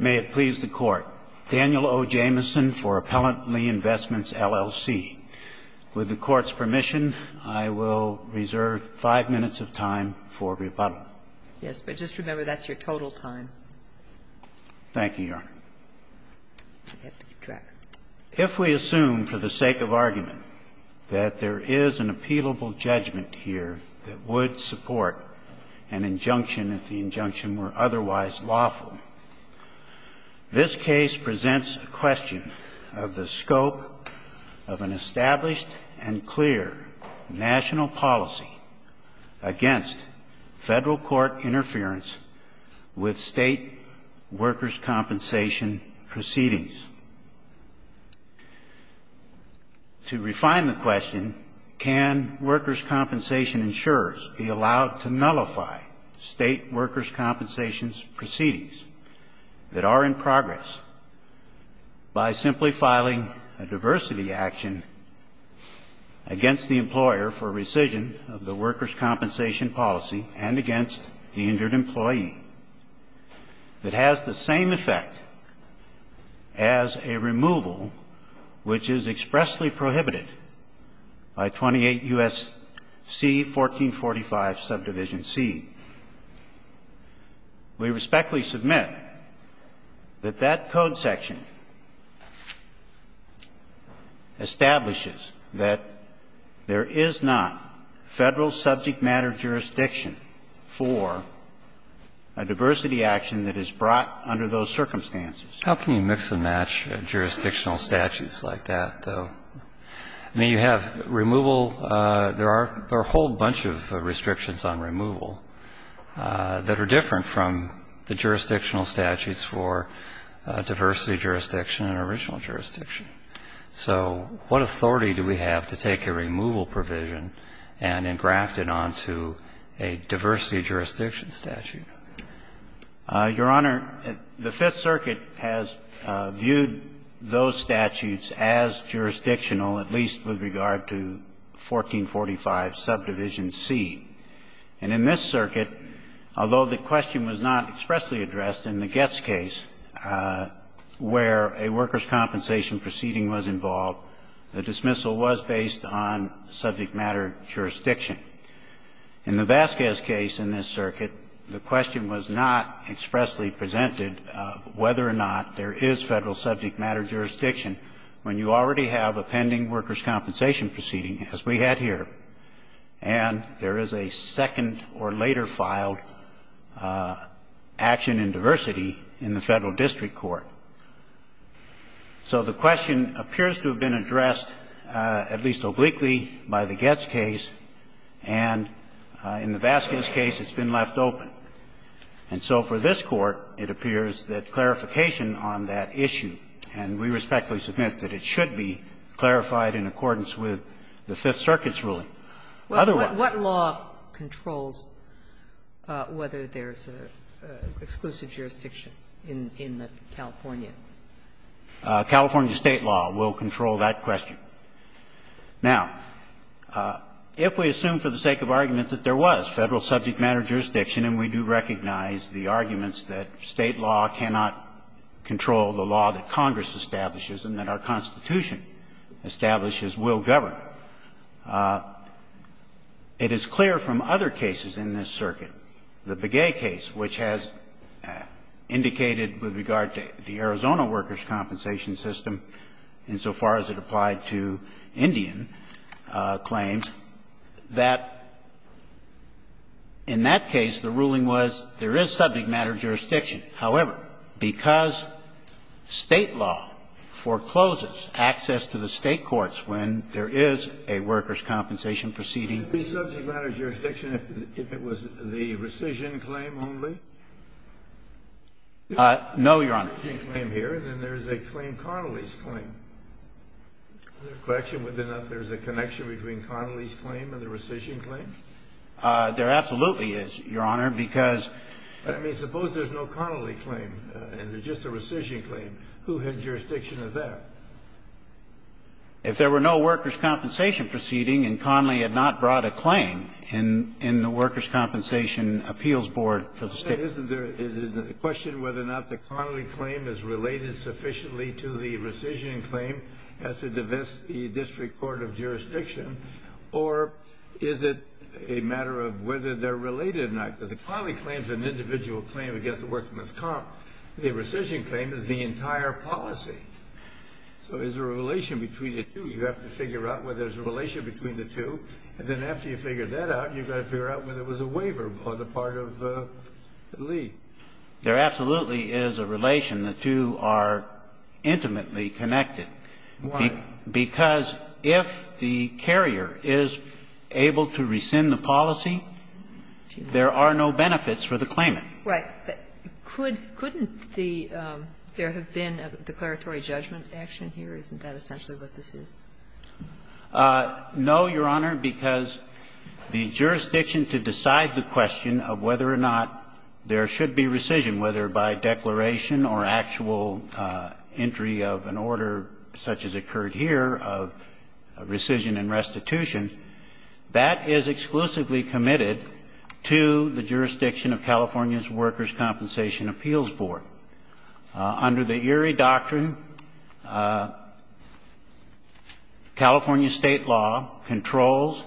May it please the Court, Daniel O. Jamieson for Appellant Lee Investments LLC. With the Court's permission, I will reserve five minutes of time for rebuttal. Yes, but just remember that's your total time. Thank you, Your Honor. I have to keep track. If we assume for the sake of argument that there is an appealable judgment here that would support an injunction if the injunction were otherwise lawful, this case presents a question of the scope of an established and clear national policy against federal court interference with state workers' compensation proceedings. To refine the question, can workers' compensation insurers be allowed to that are in progress by simply filing a diversity action against the employer for rescission of the workers' compensation policy and against the injured employee that has the same effect as a removal which is expressly prohibited by 28 U.S.C. 1445, Subdivision C. We respectfully submit that that code section establishes that there is not Federal subject matter jurisdiction for a diversity action that is brought under those circumstances. How can you mix and match jurisdictional statutes like that, though? I mean, you have removal. There are a whole bunch of restrictions on removal. That are different from the jurisdictional statutes for diversity jurisdiction and original jurisdiction. So what authority do we have to take a removal provision and engraft it onto a diversity jurisdiction statute? Your Honor, the Fifth Circuit has viewed those statutes as jurisdictional, at least with regard to 1445, Subdivision C. And in this circuit, although the question was not expressly addressed in the Getz case where a workers' compensation proceeding was involved, the dismissal was based on subject matter jurisdiction. In the Vasquez case in this circuit, the question was not expressly presented whether or not there is Federal subject matter jurisdiction when you already have a pending workers' compensation proceeding as we had here. And there is a second or later filed action in diversity in the Federal district court. So the question appears to have been addressed at least obliquely by the Getz case, and in the Vasquez case it's been left open. And so for this Court, it appears that clarification on that issue, and we respectfully submit that it should be clarified in accordance with the Fifth Circuit's ruling. Sotomayor, what law controls whether there is an exclusive jurisdiction in the California? California State law will control that question. Now, if we assume for the sake of argument that there was Federal subject matter jurisdiction, and we do recognize the arguments that State law cannot control the law that Congress establishes and that our Constitution establishes will govern, it is clear from other cases in this circuit, the Begay case, which has indicated with regard to the Arizona workers' compensation system insofar as it applied to Indian claims, that in that case, the ruling was there is subject matter jurisdiction. However, because State law forecloses access to the State courts when there is a workers' compensation proceeding. Could it be subject matter jurisdiction if it was the rescission claim only? No, Your Honor. And then there is a claim, Connolly's claim. Is there a connection between Connolly's claim and the rescission claim? There absolutely is, Your Honor, because there is a connection between Connolly's claim and just the rescission claim. Who had jurisdiction of that? If there were no workers' compensation proceeding and Connolly had not brought a claim in the workers' compensation appeals board for the State. Is it a question whether or not the Connolly claim is related sufficiently to the rescission claim as to the district court of jurisdiction, or is it a matter of whether they're related or not? Because the Connolly claim is an individual claim against the workers' comp. The rescission claim is the entire policy. So there's a relation between the two. You have to figure out whether there's a relation between the two. And then after you figure that out, you've got to figure out whether there was a waiver on the part of Lee. There absolutely is a relation. The two are intimately connected. Why? Because if the carrier is able to rescind the policy, there are no benefits for the claimant. Right. Couldn't the – there have been a declaratory judgment action here? Isn't that essentially what this is? No, Your Honor, because the jurisdiction to decide the question of whether or not there should be rescission, whether by declaration or actual entry of an order such as occurred here of rescission and restitution, that is exclusively committed to the jurisdiction of California's Workers' Compensation Appeals Board. Under the Erie Doctrine, California State law controls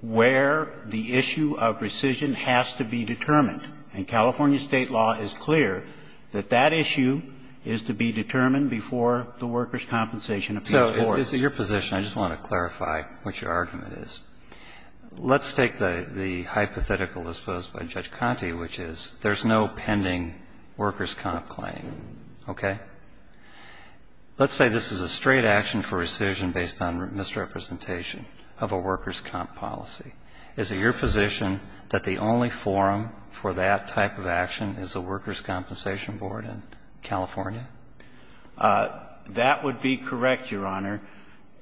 where the issue of rescission has to be determined, and California State law is clear that that issue is to be determined before the Workers' Compensation Appeals Board. So is it your position – I just want to clarify what your argument is – let's take the hypothetical disposed by Judge Conte, which is there's no pending Workers' Comp claim, okay? Let's say this is a straight action for rescission based on misrepresentation of a Workers' Comp policy. Is it your position that the only forum for that type of action is the Workers' Compensation Board in California? That would be correct, Your Honor,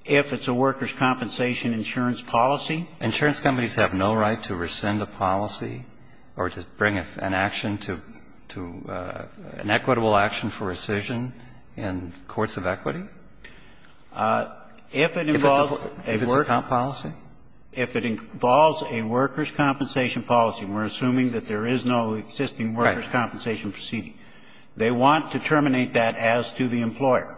if it's a Workers' Compensation insurance policy. Insurance companies have no right to rescind a policy or to bring an action to an equitable action for rescission in courts of equity? If it involves a Workers' Comp policy. If it involves a Workers' Comp policy, we're assuming that there is no existing Workers' Compensation proceeding. They want to terminate that as to the employer.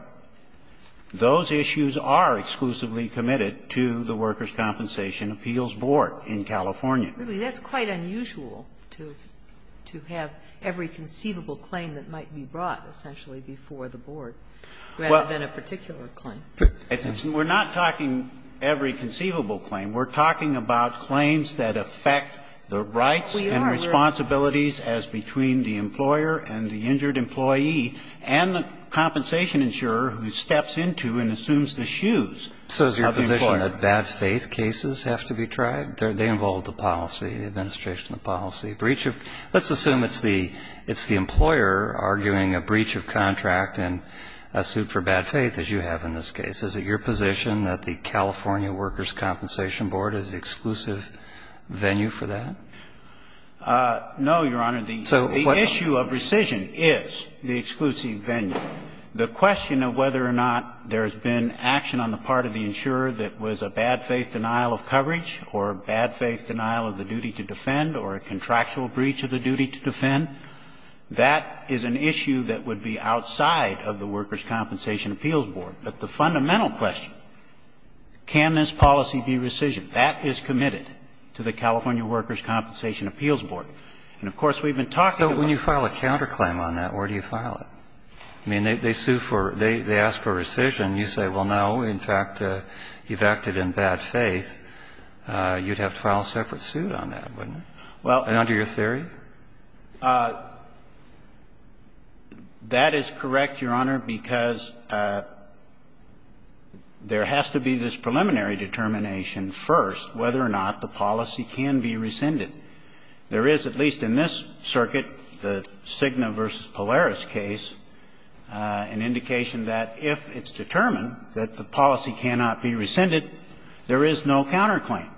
Those issues are exclusively committed to the Workers' Compensation Appeals Board in California. Really, that's quite unusual to have every conceivable claim that might be brought, essentially, before the board, rather than a particular claim. We're not talking every conceivable claim. We're talking about claims that affect the rights and responsibilities as between the employer and the injured employee and the compensation insurer who steps into and assumes the shoes of the employer. So is your position that bad faith cases have to be tried? They involve the policy, the administration of the policy. Breach of the employer, let's assume it's the employer arguing a breach of contract and a suit for bad faith, as you have in this case. Is it your position that the California Workers' Compensation Board is the exclusive venue for that? No, Your Honor. The issue of rescission is the exclusive venue. The question of whether or not there's been action on the part of the insurer that was a bad faith denial of coverage or a bad faith denial of the duty to defend or a contractual breach of the duty to defend, that is an issue that would be outside of the Workers' Compensation Appeals Board. But the fundamental question, can this policy be rescissioned? That is committed to the California Workers' Compensation Appeals Board. And, of course, we've been talking about it. So when you file a counterclaim on that, where do you file it? I mean, they sue for or they ask for rescission. You say, well, no, in fact, you've acted in bad faith. You'd have to file a separate suit on that, wouldn't you, under your theory? That is correct, Your Honor, because there has to be this preliminary determination first whether or not the policy can be rescinded. There is, at least in this circuit, the Cigna v. Polaris case, an indication that if it's determined that the policy cannot be rescinded, there is no counterclaim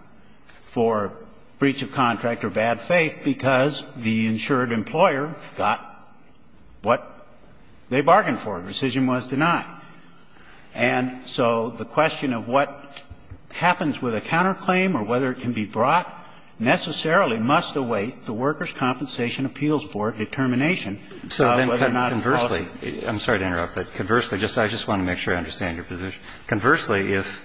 for breach of contract or bad faith because the insured employer got what they bargained for, rescission was denied. And so the question of what happens with a counterclaim or whether it can be brought necessarily must await the Workers' Compensation Appeals Board determination of whether or not the policy can be rescinded. So then conversely, I'm sorry to interrupt, but conversely, I just want to make sure I understand your position. Conversely, if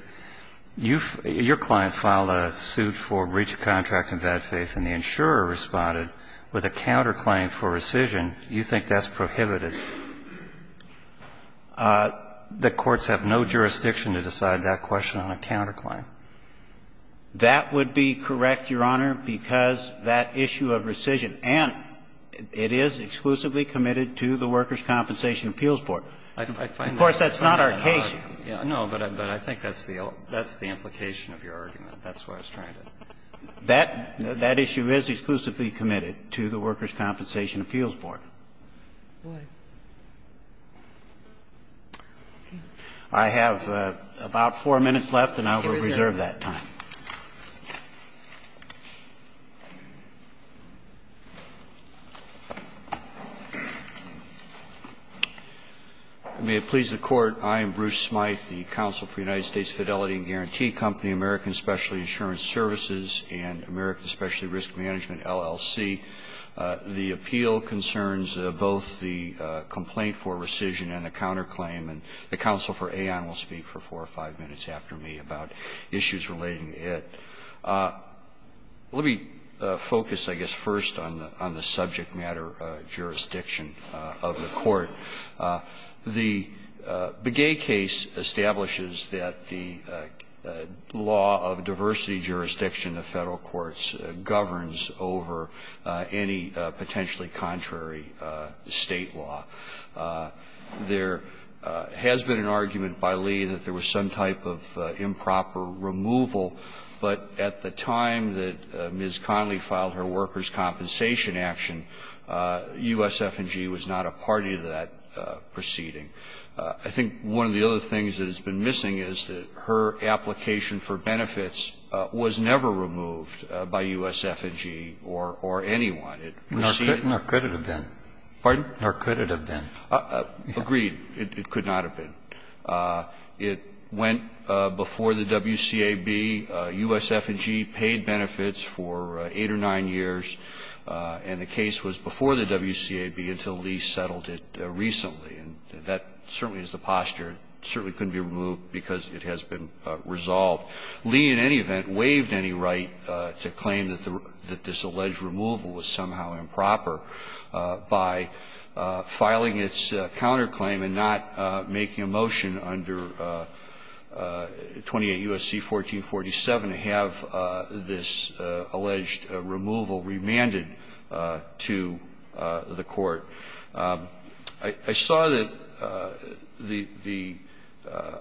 your client filed a suit for breach of contract in bad faith and the insurer responded with a counterclaim for rescission, you think that's prohibited? The courts have no jurisdiction to decide that question on a counterclaim. That would be correct, Your Honor, because that issue of rescission, and it is exclusively committed to the Workers' Compensation Appeals Board. Of course, that's not our case. No, but I think that's the implication of your argument. That's what I was trying to say. That issue is exclusively committed to the Workers' Compensation Appeals Board. I have about four minutes left, and I will reserve that time. May it please the Court. I am Bruce Smyth, the counsel for United States Fidelity and Guarantee Company, American Specialty Insurance Services, and American Specialty Risk Management, LLC. The appeal concerns both the complaint for rescission and the counterclaim, and the counsel for Aon will speak for four or five minutes after me about issues relating to it. Let me focus, I guess, first on the subject matter jurisdiction of the Court. The Begay case establishes that the law of diversity jurisdiction of Federal courts governs over any potentially contrary State law. There has been an argument by Lee that there was some type of improper removal, but at the time that Ms. Connolly filed her workers' compensation action, USF&G was not a party to that proceeding. I think one of the other things that has been missing is that her application for benefits was never removed by USF&G or anyone. It was seen as a part of the case. Kennedy, or could it have been? Agreed, it could not have been. It went before the WCAB. USF&G paid benefits for 8 or 9 years, and the case was before the WCAB until Lee settled it recently, and that certainly is the posture. It certainly couldn't be removed because it has been resolved. Lee, in any event, waived any right to claim that this alleged removal was somehow improper by filing its counterclaim and not making a motion under 28 U.S.C. 1447 to have this alleged removal remanded to the Court. I saw that the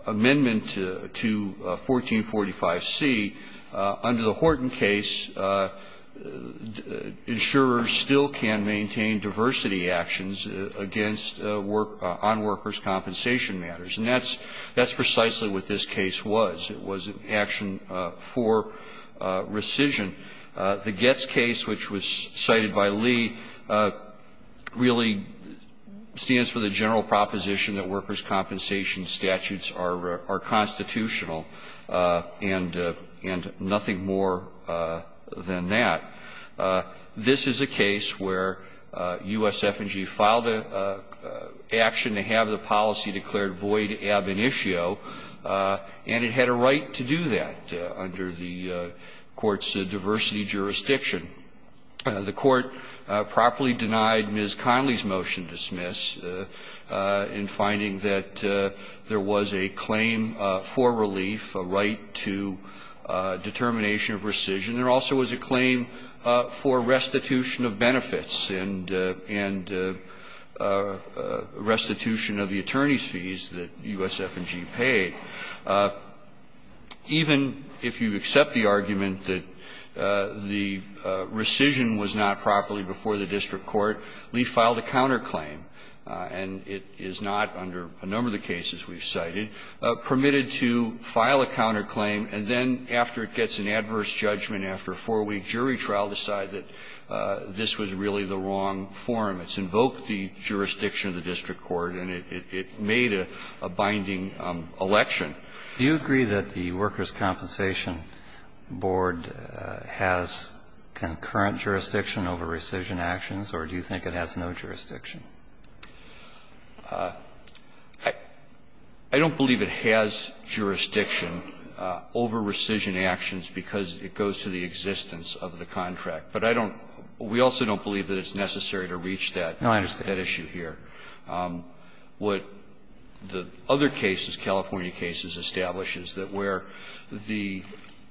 amendment to 1445C, under the Horton case, insurers still can maintain diversity actions against on-workers' compensation matters, and that's precisely what this case was. It was an action for rescission. The Getz case, which was cited by Lee, really stands for the general proposition that workers' compensation statutes are constitutional, and nothing more than that. This is a case where USF&G filed an action to have the policy declared void ab initio, and it had a right to do that under the Court's diversity jurisdiction. The Court properly denied Ms. Conley's motion dismiss in finding that there was a claim for relief, a right to determination of rescission. There also was a claim for restitution of benefits and restitution of the attorney's pay. Even if you accept the argument that the rescission was not properly before the district court, Lee filed a counterclaim, and it is not, under a number of the cases we've cited, permitted to file a counterclaim, and then after it gets an adverse judgment after a 4-week jury trial, decide that this was really the wrong form. It's invoked the jurisdiction of the district court, and it made a binding election. Do you agree that the Workers' Compensation Board has concurrent jurisdiction over rescission actions, or do you think it has no jurisdiction? I don't believe it has jurisdiction over rescission actions because it goes to the other side of that issue here. What the other cases, California cases, establish is that where the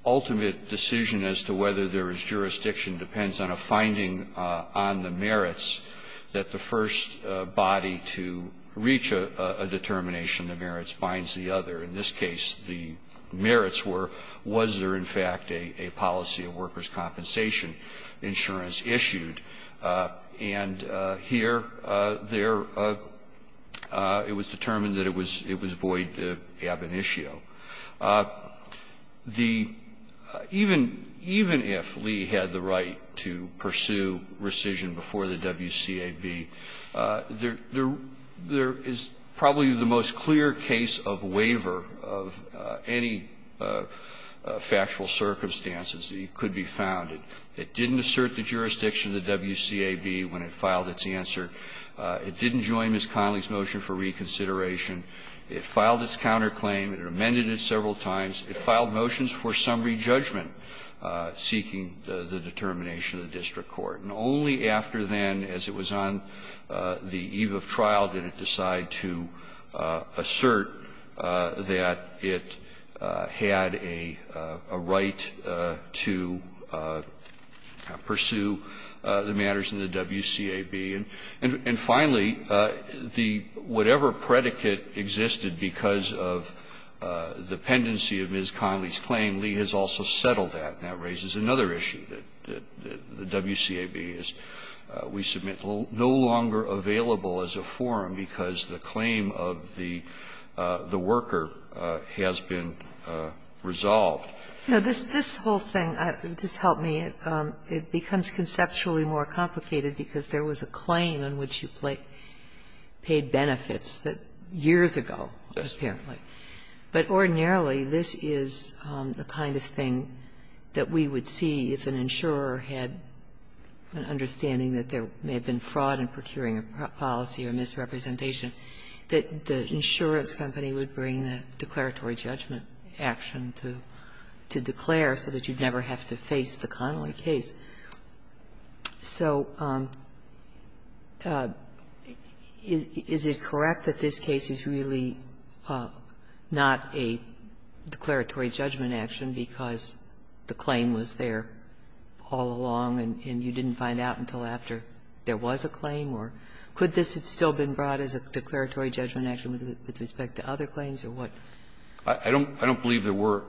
ultimate decision as to whether there is jurisdiction depends on a finding on the merits that the first body to reach a determination of merits binds the other. In this case, the merits were, was there in fact a policy of workers' compensation insurance issued, and here, there, it was determined that it was, it was void ab initio. The even, even if Lee had the right to pursue rescission before the WCAB, there is probably the most clear case of waiver of any factual circumstances that could be found. It didn't assert the jurisdiction of the WCAB when it filed its answer. It didn't join Ms. Connolly's motion for reconsideration. It filed its counterclaim. It amended it several times. It filed motions for summary judgment seeking the determination of the district court. And only after then, as it was on the eve of trial, did it decide to assert that it had a right to pursue the matters in the WCAB. And finally, the, whatever predicate existed because of the pendency of Ms. Connolly's claim, Lee has also settled that. And that raises another issue, that the WCAB is, we submit, no longer available as a forum because the claim of the, the worker has been resolved. Now, this, this whole thing, just help me, it becomes conceptually more complicated because there was a claim in which you played, paid benefits that, years ago, apparently. But ordinarily, this is the kind of thing that we would see if an insurer had an understanding that there may have been fraud in procuring a policy or misrepresentation, that the insurance company would bring the declaratory judgment action to, to declare so that you'd never have to face the Connolly case. So is it correct that this case is really not a declaratory judgment action because the claim was there all along and you didn't find out until after there was a claim? Or could this have still been brought as a declaratory judgment action with respect to other claims? Or what? I don't, I don't believe there were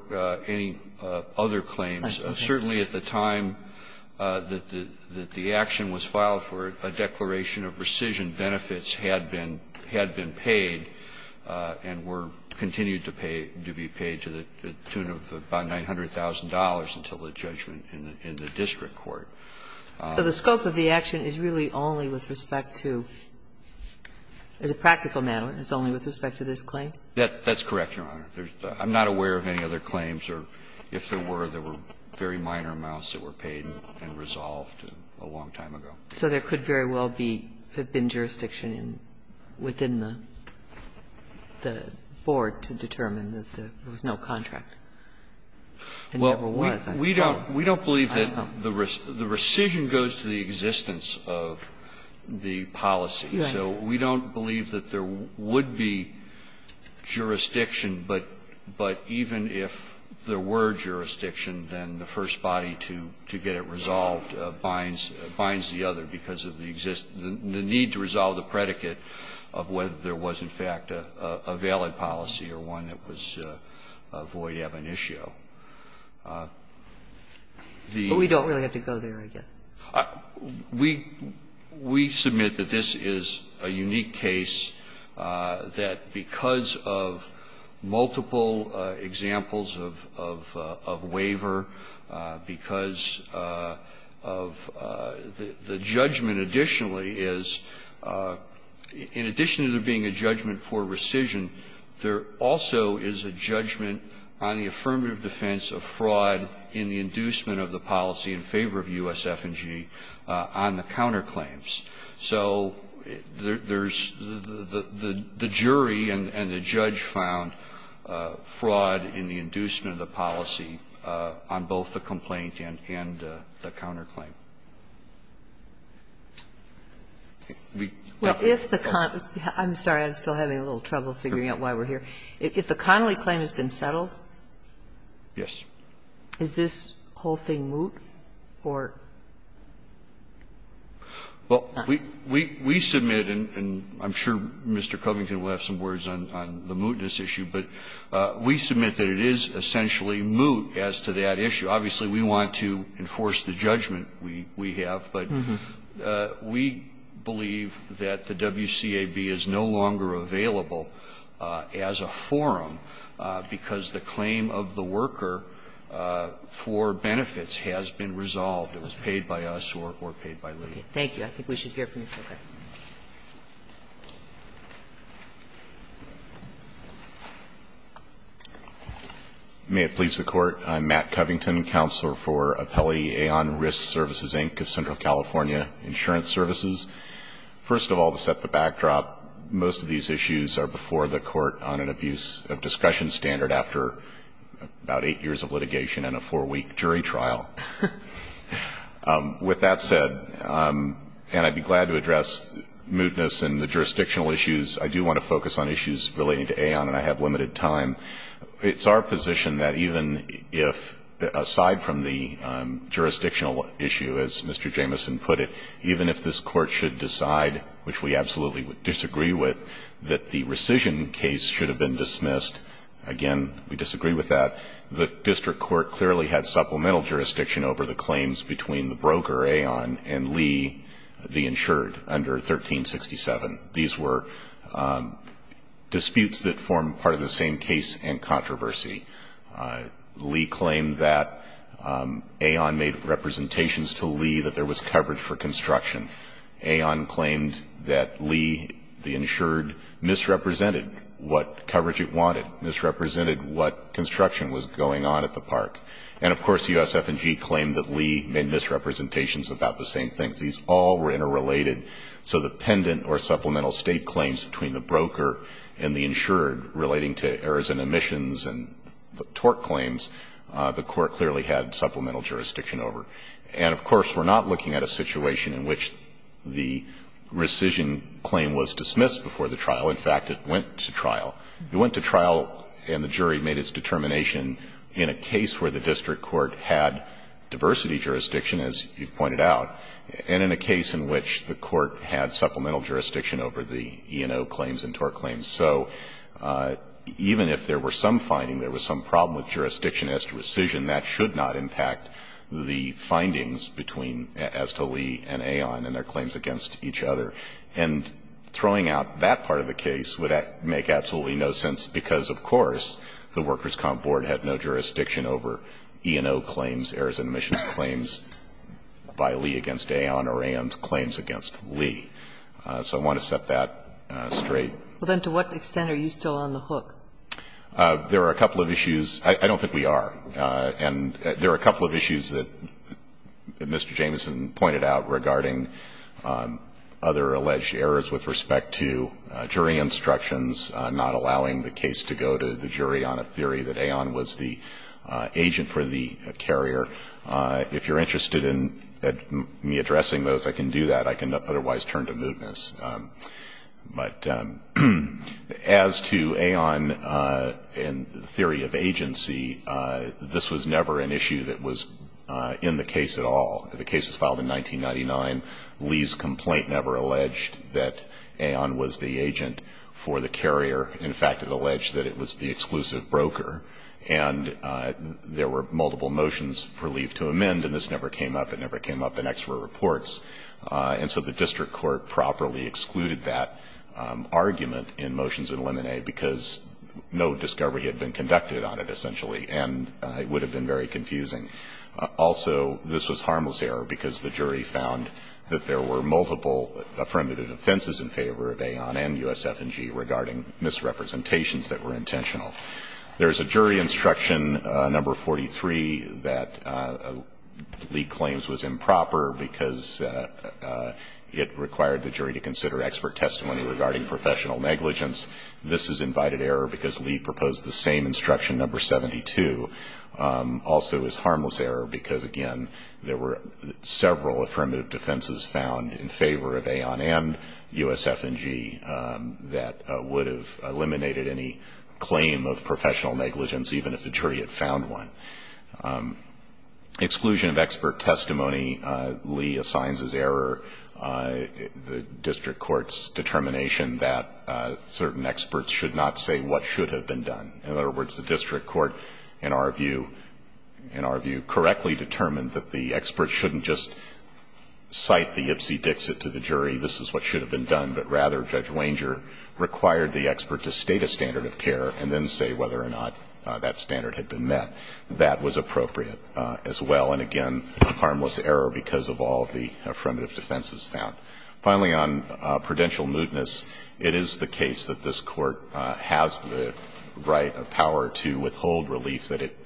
any other claims. Certainly at the time that the, that the action was filed for a declaration of rescission, benefits had been, had been paid and were continued to pay, to be paid to the tune of about $900,000 until the judgment in the district court. So the scope of the action is really only with respect to, as a practical matter, it's only with respect to this claim? That's correct, Your Honor. I'm not aware of any other claims or if there were, there were very minor amounts that were paid and resolved a long time ago. So there could very well be, have been jurisdiction in, within the, the board to determine that there was no contract. It never was, as far as I know. Well, we, we don't, we don't believe that the rescission goes to the existence of the policy. So we don't believe that there would be jurisdiction, but, but even if there were jurisdiction, then the first body to, to get it resolved binds, binds the other because of the existence, the need to resolve the predicate of whether there was, in fact, a, a valid policy or one that was a void ebonitio. The ---- But we don't really have to go there, I guess. We, we submit that this is a unique case that because of multiple examples of, of, of waiver, because of the, the judgment additionally is, in addition to there being a judgment for rescission, there also is a judgment on the affirmative defense of fraud in the inducement of the policy in favor of USF&G on the counterclaims. So there's, the, the jury and the judge found fraud in the inducement of the policy on both the complaint and, and the counterclaim. We, I, I'm sorry, I'm still having a little trouble figuring out why we're here. If the Connolly claim has been settled? Yes. Is this whole thing moot or? Well, we, we, we submit, and I'm sure Mr. Covington will have some words on, on the mootness issue, but we submit that it is essentially moot as to that issue. Obviously, we want to enforce the judgment we, we have, but we believe that the WCAB is no longer available as a forum because the claim of the worker for benefits has been resolved. It was paid by us or, or paid by legal. Thank you. I think we should hear from you. Okay. May it please the Court. I'm Matt Covington, Counselor for Appellee Aon Risk Services, Inc. of Central California Insurance Services. First of all, to set the backdrop, most of these issues are before the Court on an abuse of discussion standard after about eight years of litigation and a four-week jury trial. With that said, and I'd be glad to address mootness and the jurisdictional issues, I do want to focus on issues relating to Aon, and I have limited time. It's our position that even if, aside from the jurisdictional issue, as Mr. Jamison put it, even if this Court should decide, which we absolutely disagree with, that the rescission case should have been dismissed, again, we disagree with that, the district court clearly had supplemental jurisdiction over the claims between the broker, Aon, and Lee, the insured, under 1367. These were disputes that form part of the same case and controversy. Lee claimed that Aon made representations to Lee that there was coverage for construction. Aon claimed that Lee, the insured, misrepresented what coverage it wanted, misrepresented what construction was going on at the park. And of course, USF&G claimed that Lee made misrepresentations about the same things. These all were interrelated. So the pendant or supplemental state claims between the broker and the insured relating to errors in emissions and the tort claims, the court clearly had supplemental jurisdiction over. And of course, we're not looking at a situation in which the rescission claim was dismissed before the trial. In fact, it went to trial. It went to trial, and the jury made its determination in a case where the district court had diversity jurisdiction, as you pointed out. And in a case in which the court had supplemental jurisdiction over the E&O claims and tort claims. So even if there were some finding, there was some problem with jurisdiction as to rescission, that should not impact the findings as to Lee and Aon and their claims against each other. And throwing out that part of the case would make absolutely no sense because, of course, the Workers' Comp Board had no jurisdiction over E&O claims, errors in emissions claims by Lee against Aon or Aon's claims against Lee. So I want to set that straight. Well, then to what extent are you still on the hook? There are a couple of issues. I don't think we are. And there are a couple of issues that Mr. Jameson pointed out regarding other alleged errors with respect to jury instructions, not allowing the case to go to the jury on a theory that Aon was the agent for the carrier. If you're interested in me addressing those, I can do that. I can not otherwise turn to mootness. But as to Aon and the theory of agency, this was never an issue that was in the case at all. The case was filed in 1999. Lee's complaint never alleged that Aon was the agent for the carrier. In fact, it alleged that it was the exclusive broker. And there were multiple motions for Lee to amend, and this never came up. It never came up in extra reports. And so the district court properly excluded that argument in motions in Lemonet because no discovery had been conducted on it, essentially, and it would have been very confusing. Also, this was harmless error because the jury found that there were multiple affirmative offenses in favor of Aon and USF&G regarding misrepresentations that were intentional. There's a jury instruction, number 43, that Lee claims was improper because it required the jury to consider expert testimony regarding professional negligence. This is invited error because Lee proposed the same instruction, number 72. Also, it was harmless error because, again, there were several affirmative defenses found in favor of Aon and USF&G that would have eliminated any claim of professional negligence even if the jury had found one. Exclusion of expert testimony, Lee assigns as error the district court's determination that certain experts should not say what should have been done. In other words, the district court, in our view, correctly determined that the expert shouldn't just cite the ipsy-dixit to the jury, this is what should have been done, but rather Judge Wanger required the expert to state a standard of care and then say whether or not that standard had been met. That was appropriate as well. And again, harmless error because of all the affirmative defenses found. Finally, on prudential mootness, it is the case that this court has the right or to withhold relief that it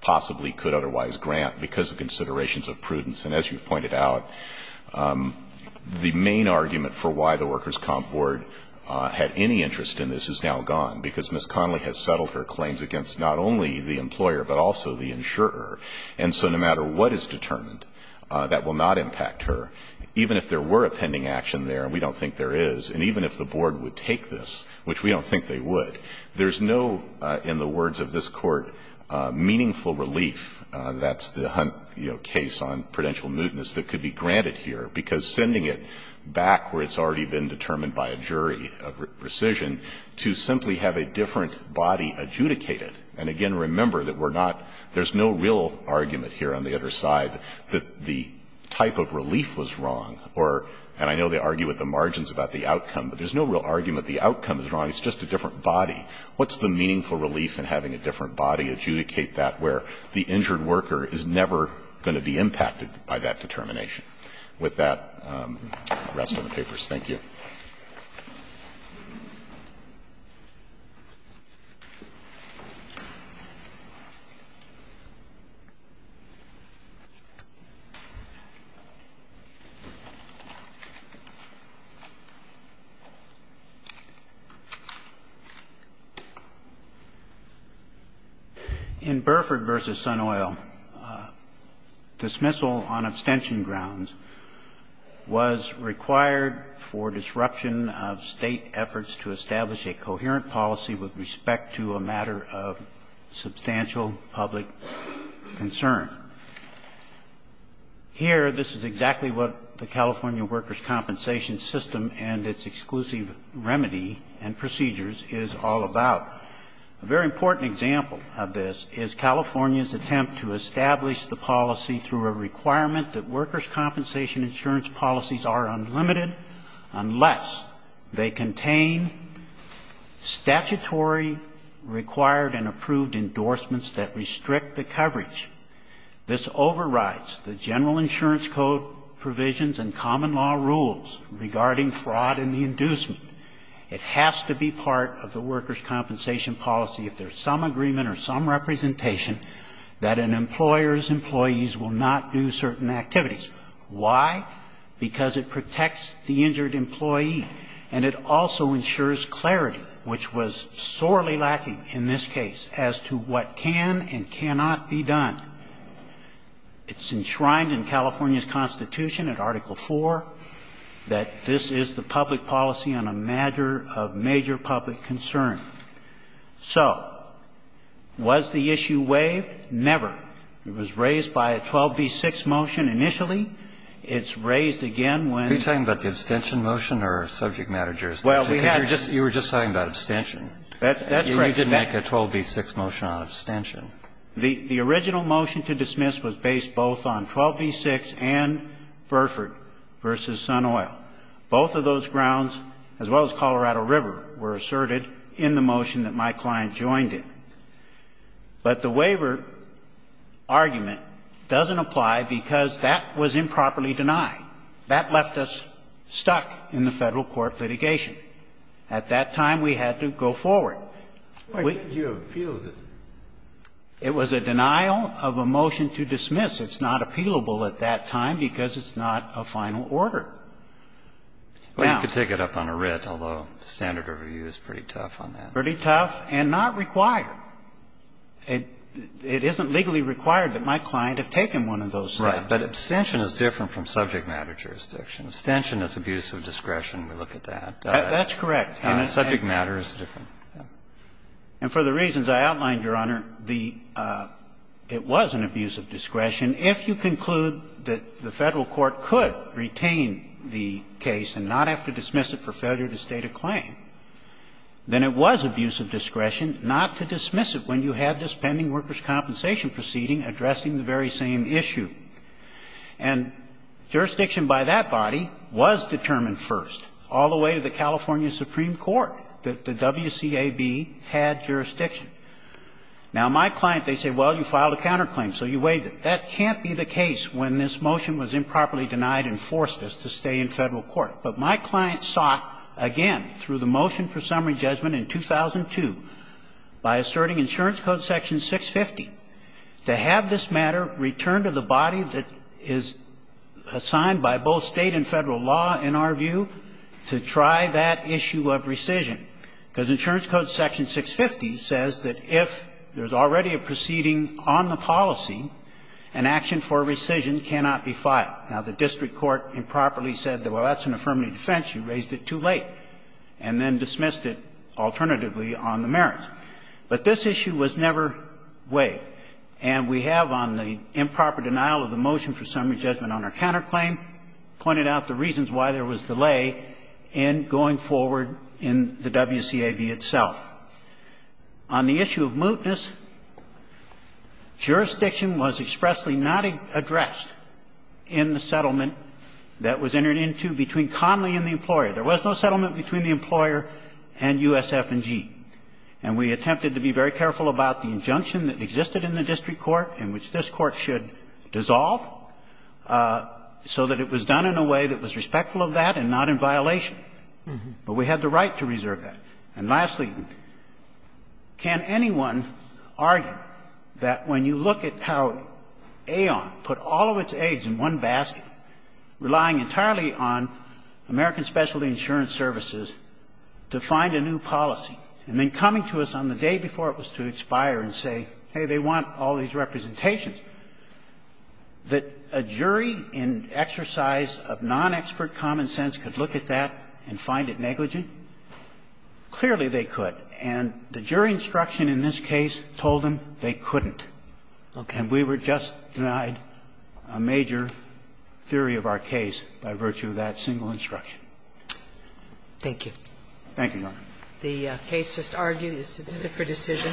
possibly could otherwise grant because of considerations of prudence, and as you've pointed out, the main argument for why the workers' comp board had any interest in this is now gone. Because Ms. Connelly has settled her claims against not only the employer, but also the insurer. And so no matter what is determined, that will not impact her. Even if there were a pending action there, and we don't think there is, and even if the board would take this, which we don't think they would, there's no, in the words of this court, meaningful relief. That's the Hunt case on prudential mootness that could be granted here, because sending it back where it's already been determined by a jury of precision to simply have a different body adjudicate it, and again, remember that we're not, there's no real argument here on the other side that the type of relief was wrong, or, and I know they argue with the margins about the outcome, but there's no real argument the outcome is wrong. It's just a different body. What's the meaningful relief in having a different body adjudicate that where the injured worker is never going to be impacted by that determination? With that, rest of the papers. Thank you. In Burford versus Sun Oil, dismissal on abstention grounds was required for disruption of state efforts to establish a coherent policy with respect to a matter of substantial public concern. Here, this is exactly what the California Workers' Compensation System and its exclusive remedy and procedures is all about. A very important example of this is California's attempt to establish the policy through a requirement that workers' compensation insurance policies are unlimited unless they contain statutory required and approved endorsements that restrict the coverage. This overrides the general insurance code provisions and the inducement. It has to be part of the workers' compensation policy if there's some agreement or some representation that an employer's employees will not do certain activities. Why? Because it protects the injured employee, and it also ensures clarity, which was sorely lacking in this case, as to what can and cannot be done. It's enshrined in California's Constitution, in Article IV, that this is the public policy on a matter of major public concern. So was the issue waived? Never. It was raised by a 12b-6 motion initially. It's raised again when the original motion to dismiss was based both on 12b-6 and Both of those grounds, as well as Colorado River, were asserted in the motion that my client joined in. But the waiver argument doesn't apply because that was improperly denied. That left us stuck in the Federal court litigation. At that time, we had to go forward. We can't appeal this. It was a denial of a motion to dismiss. It's not appealable at that time because it's not a final order. Now you could take it up on a writ, although standard of review is pretty tough on that. Pretty tough and not required. It isn't legally required that my client have taken one of those. Right. But abstention is different from subject matter jurisdiction. Abstention is abuse of discretion. We look at that. That's correct. And subject matter is different. And for the reasons I outlined, Your Honor, the – it was an abuse of discretion. If you conclude that the Federal court could retain the case and not have to dismiss it for failure to state a claim, then it was abuse of discretion not to dismiss it when you had this Pending Workers' Compensation proceeding addressing the very same issue. And jurisdiction by that body was determined first, all the way to the California Supreme Court, that the WCAB had jurisdiction. Now, my client, they say, well, you filed a counterclaim, so you waived it. That can't be the case when this motion was improperly denied and forced us to stay in Federal court. But my client sought, again, through the motion for summary judgment in 2002, by asserting insurance code section 650, to have this matter returned to the body that is assigned by both State and Federal law, in our view, to try that issue of rescission. Because insurance code section 650 says that if there's already a proceeding on the policy, an action for rescission cannot be filed. Now, the district court improperly said, well, that's an affirmative defense. You raised it too late, and then dismissed it alternatively on the merits. But this issue was never waived. And we have, on the improper denial of the motion for summary judgment on our counterclaim, pointed out the reasons why there was delay in going forward in the WCAB itself. On the issue of mootness, jurisdiction was expressly not addressed in the settlement that was entered into between Conley and the employer. There was no settlement between the employer and USF&G. And we attempted to be very careful about the injunction that existed in the district court in which this Court should dissolve, so that it was done in a way that was respectful of that and not in violation. But we had the right to reserve that. And lastly, can anyone argue that when you look at how Aon put all of its aids in one basket, relying entirely on American Specialty Insurance Services to find a new policy, and then coming to us on the day before it was to expire and say, hey, they want all these representations, that a jury in exercise of non-expert common sense could look at that and find it negligent, clearly they could. And the jury instruction in this case told them they couldn't. And we were just denied a major theory of our case by virtue of that single instruction. Thank you. Thank you, Your Honor. The case just argued is submitted for decision.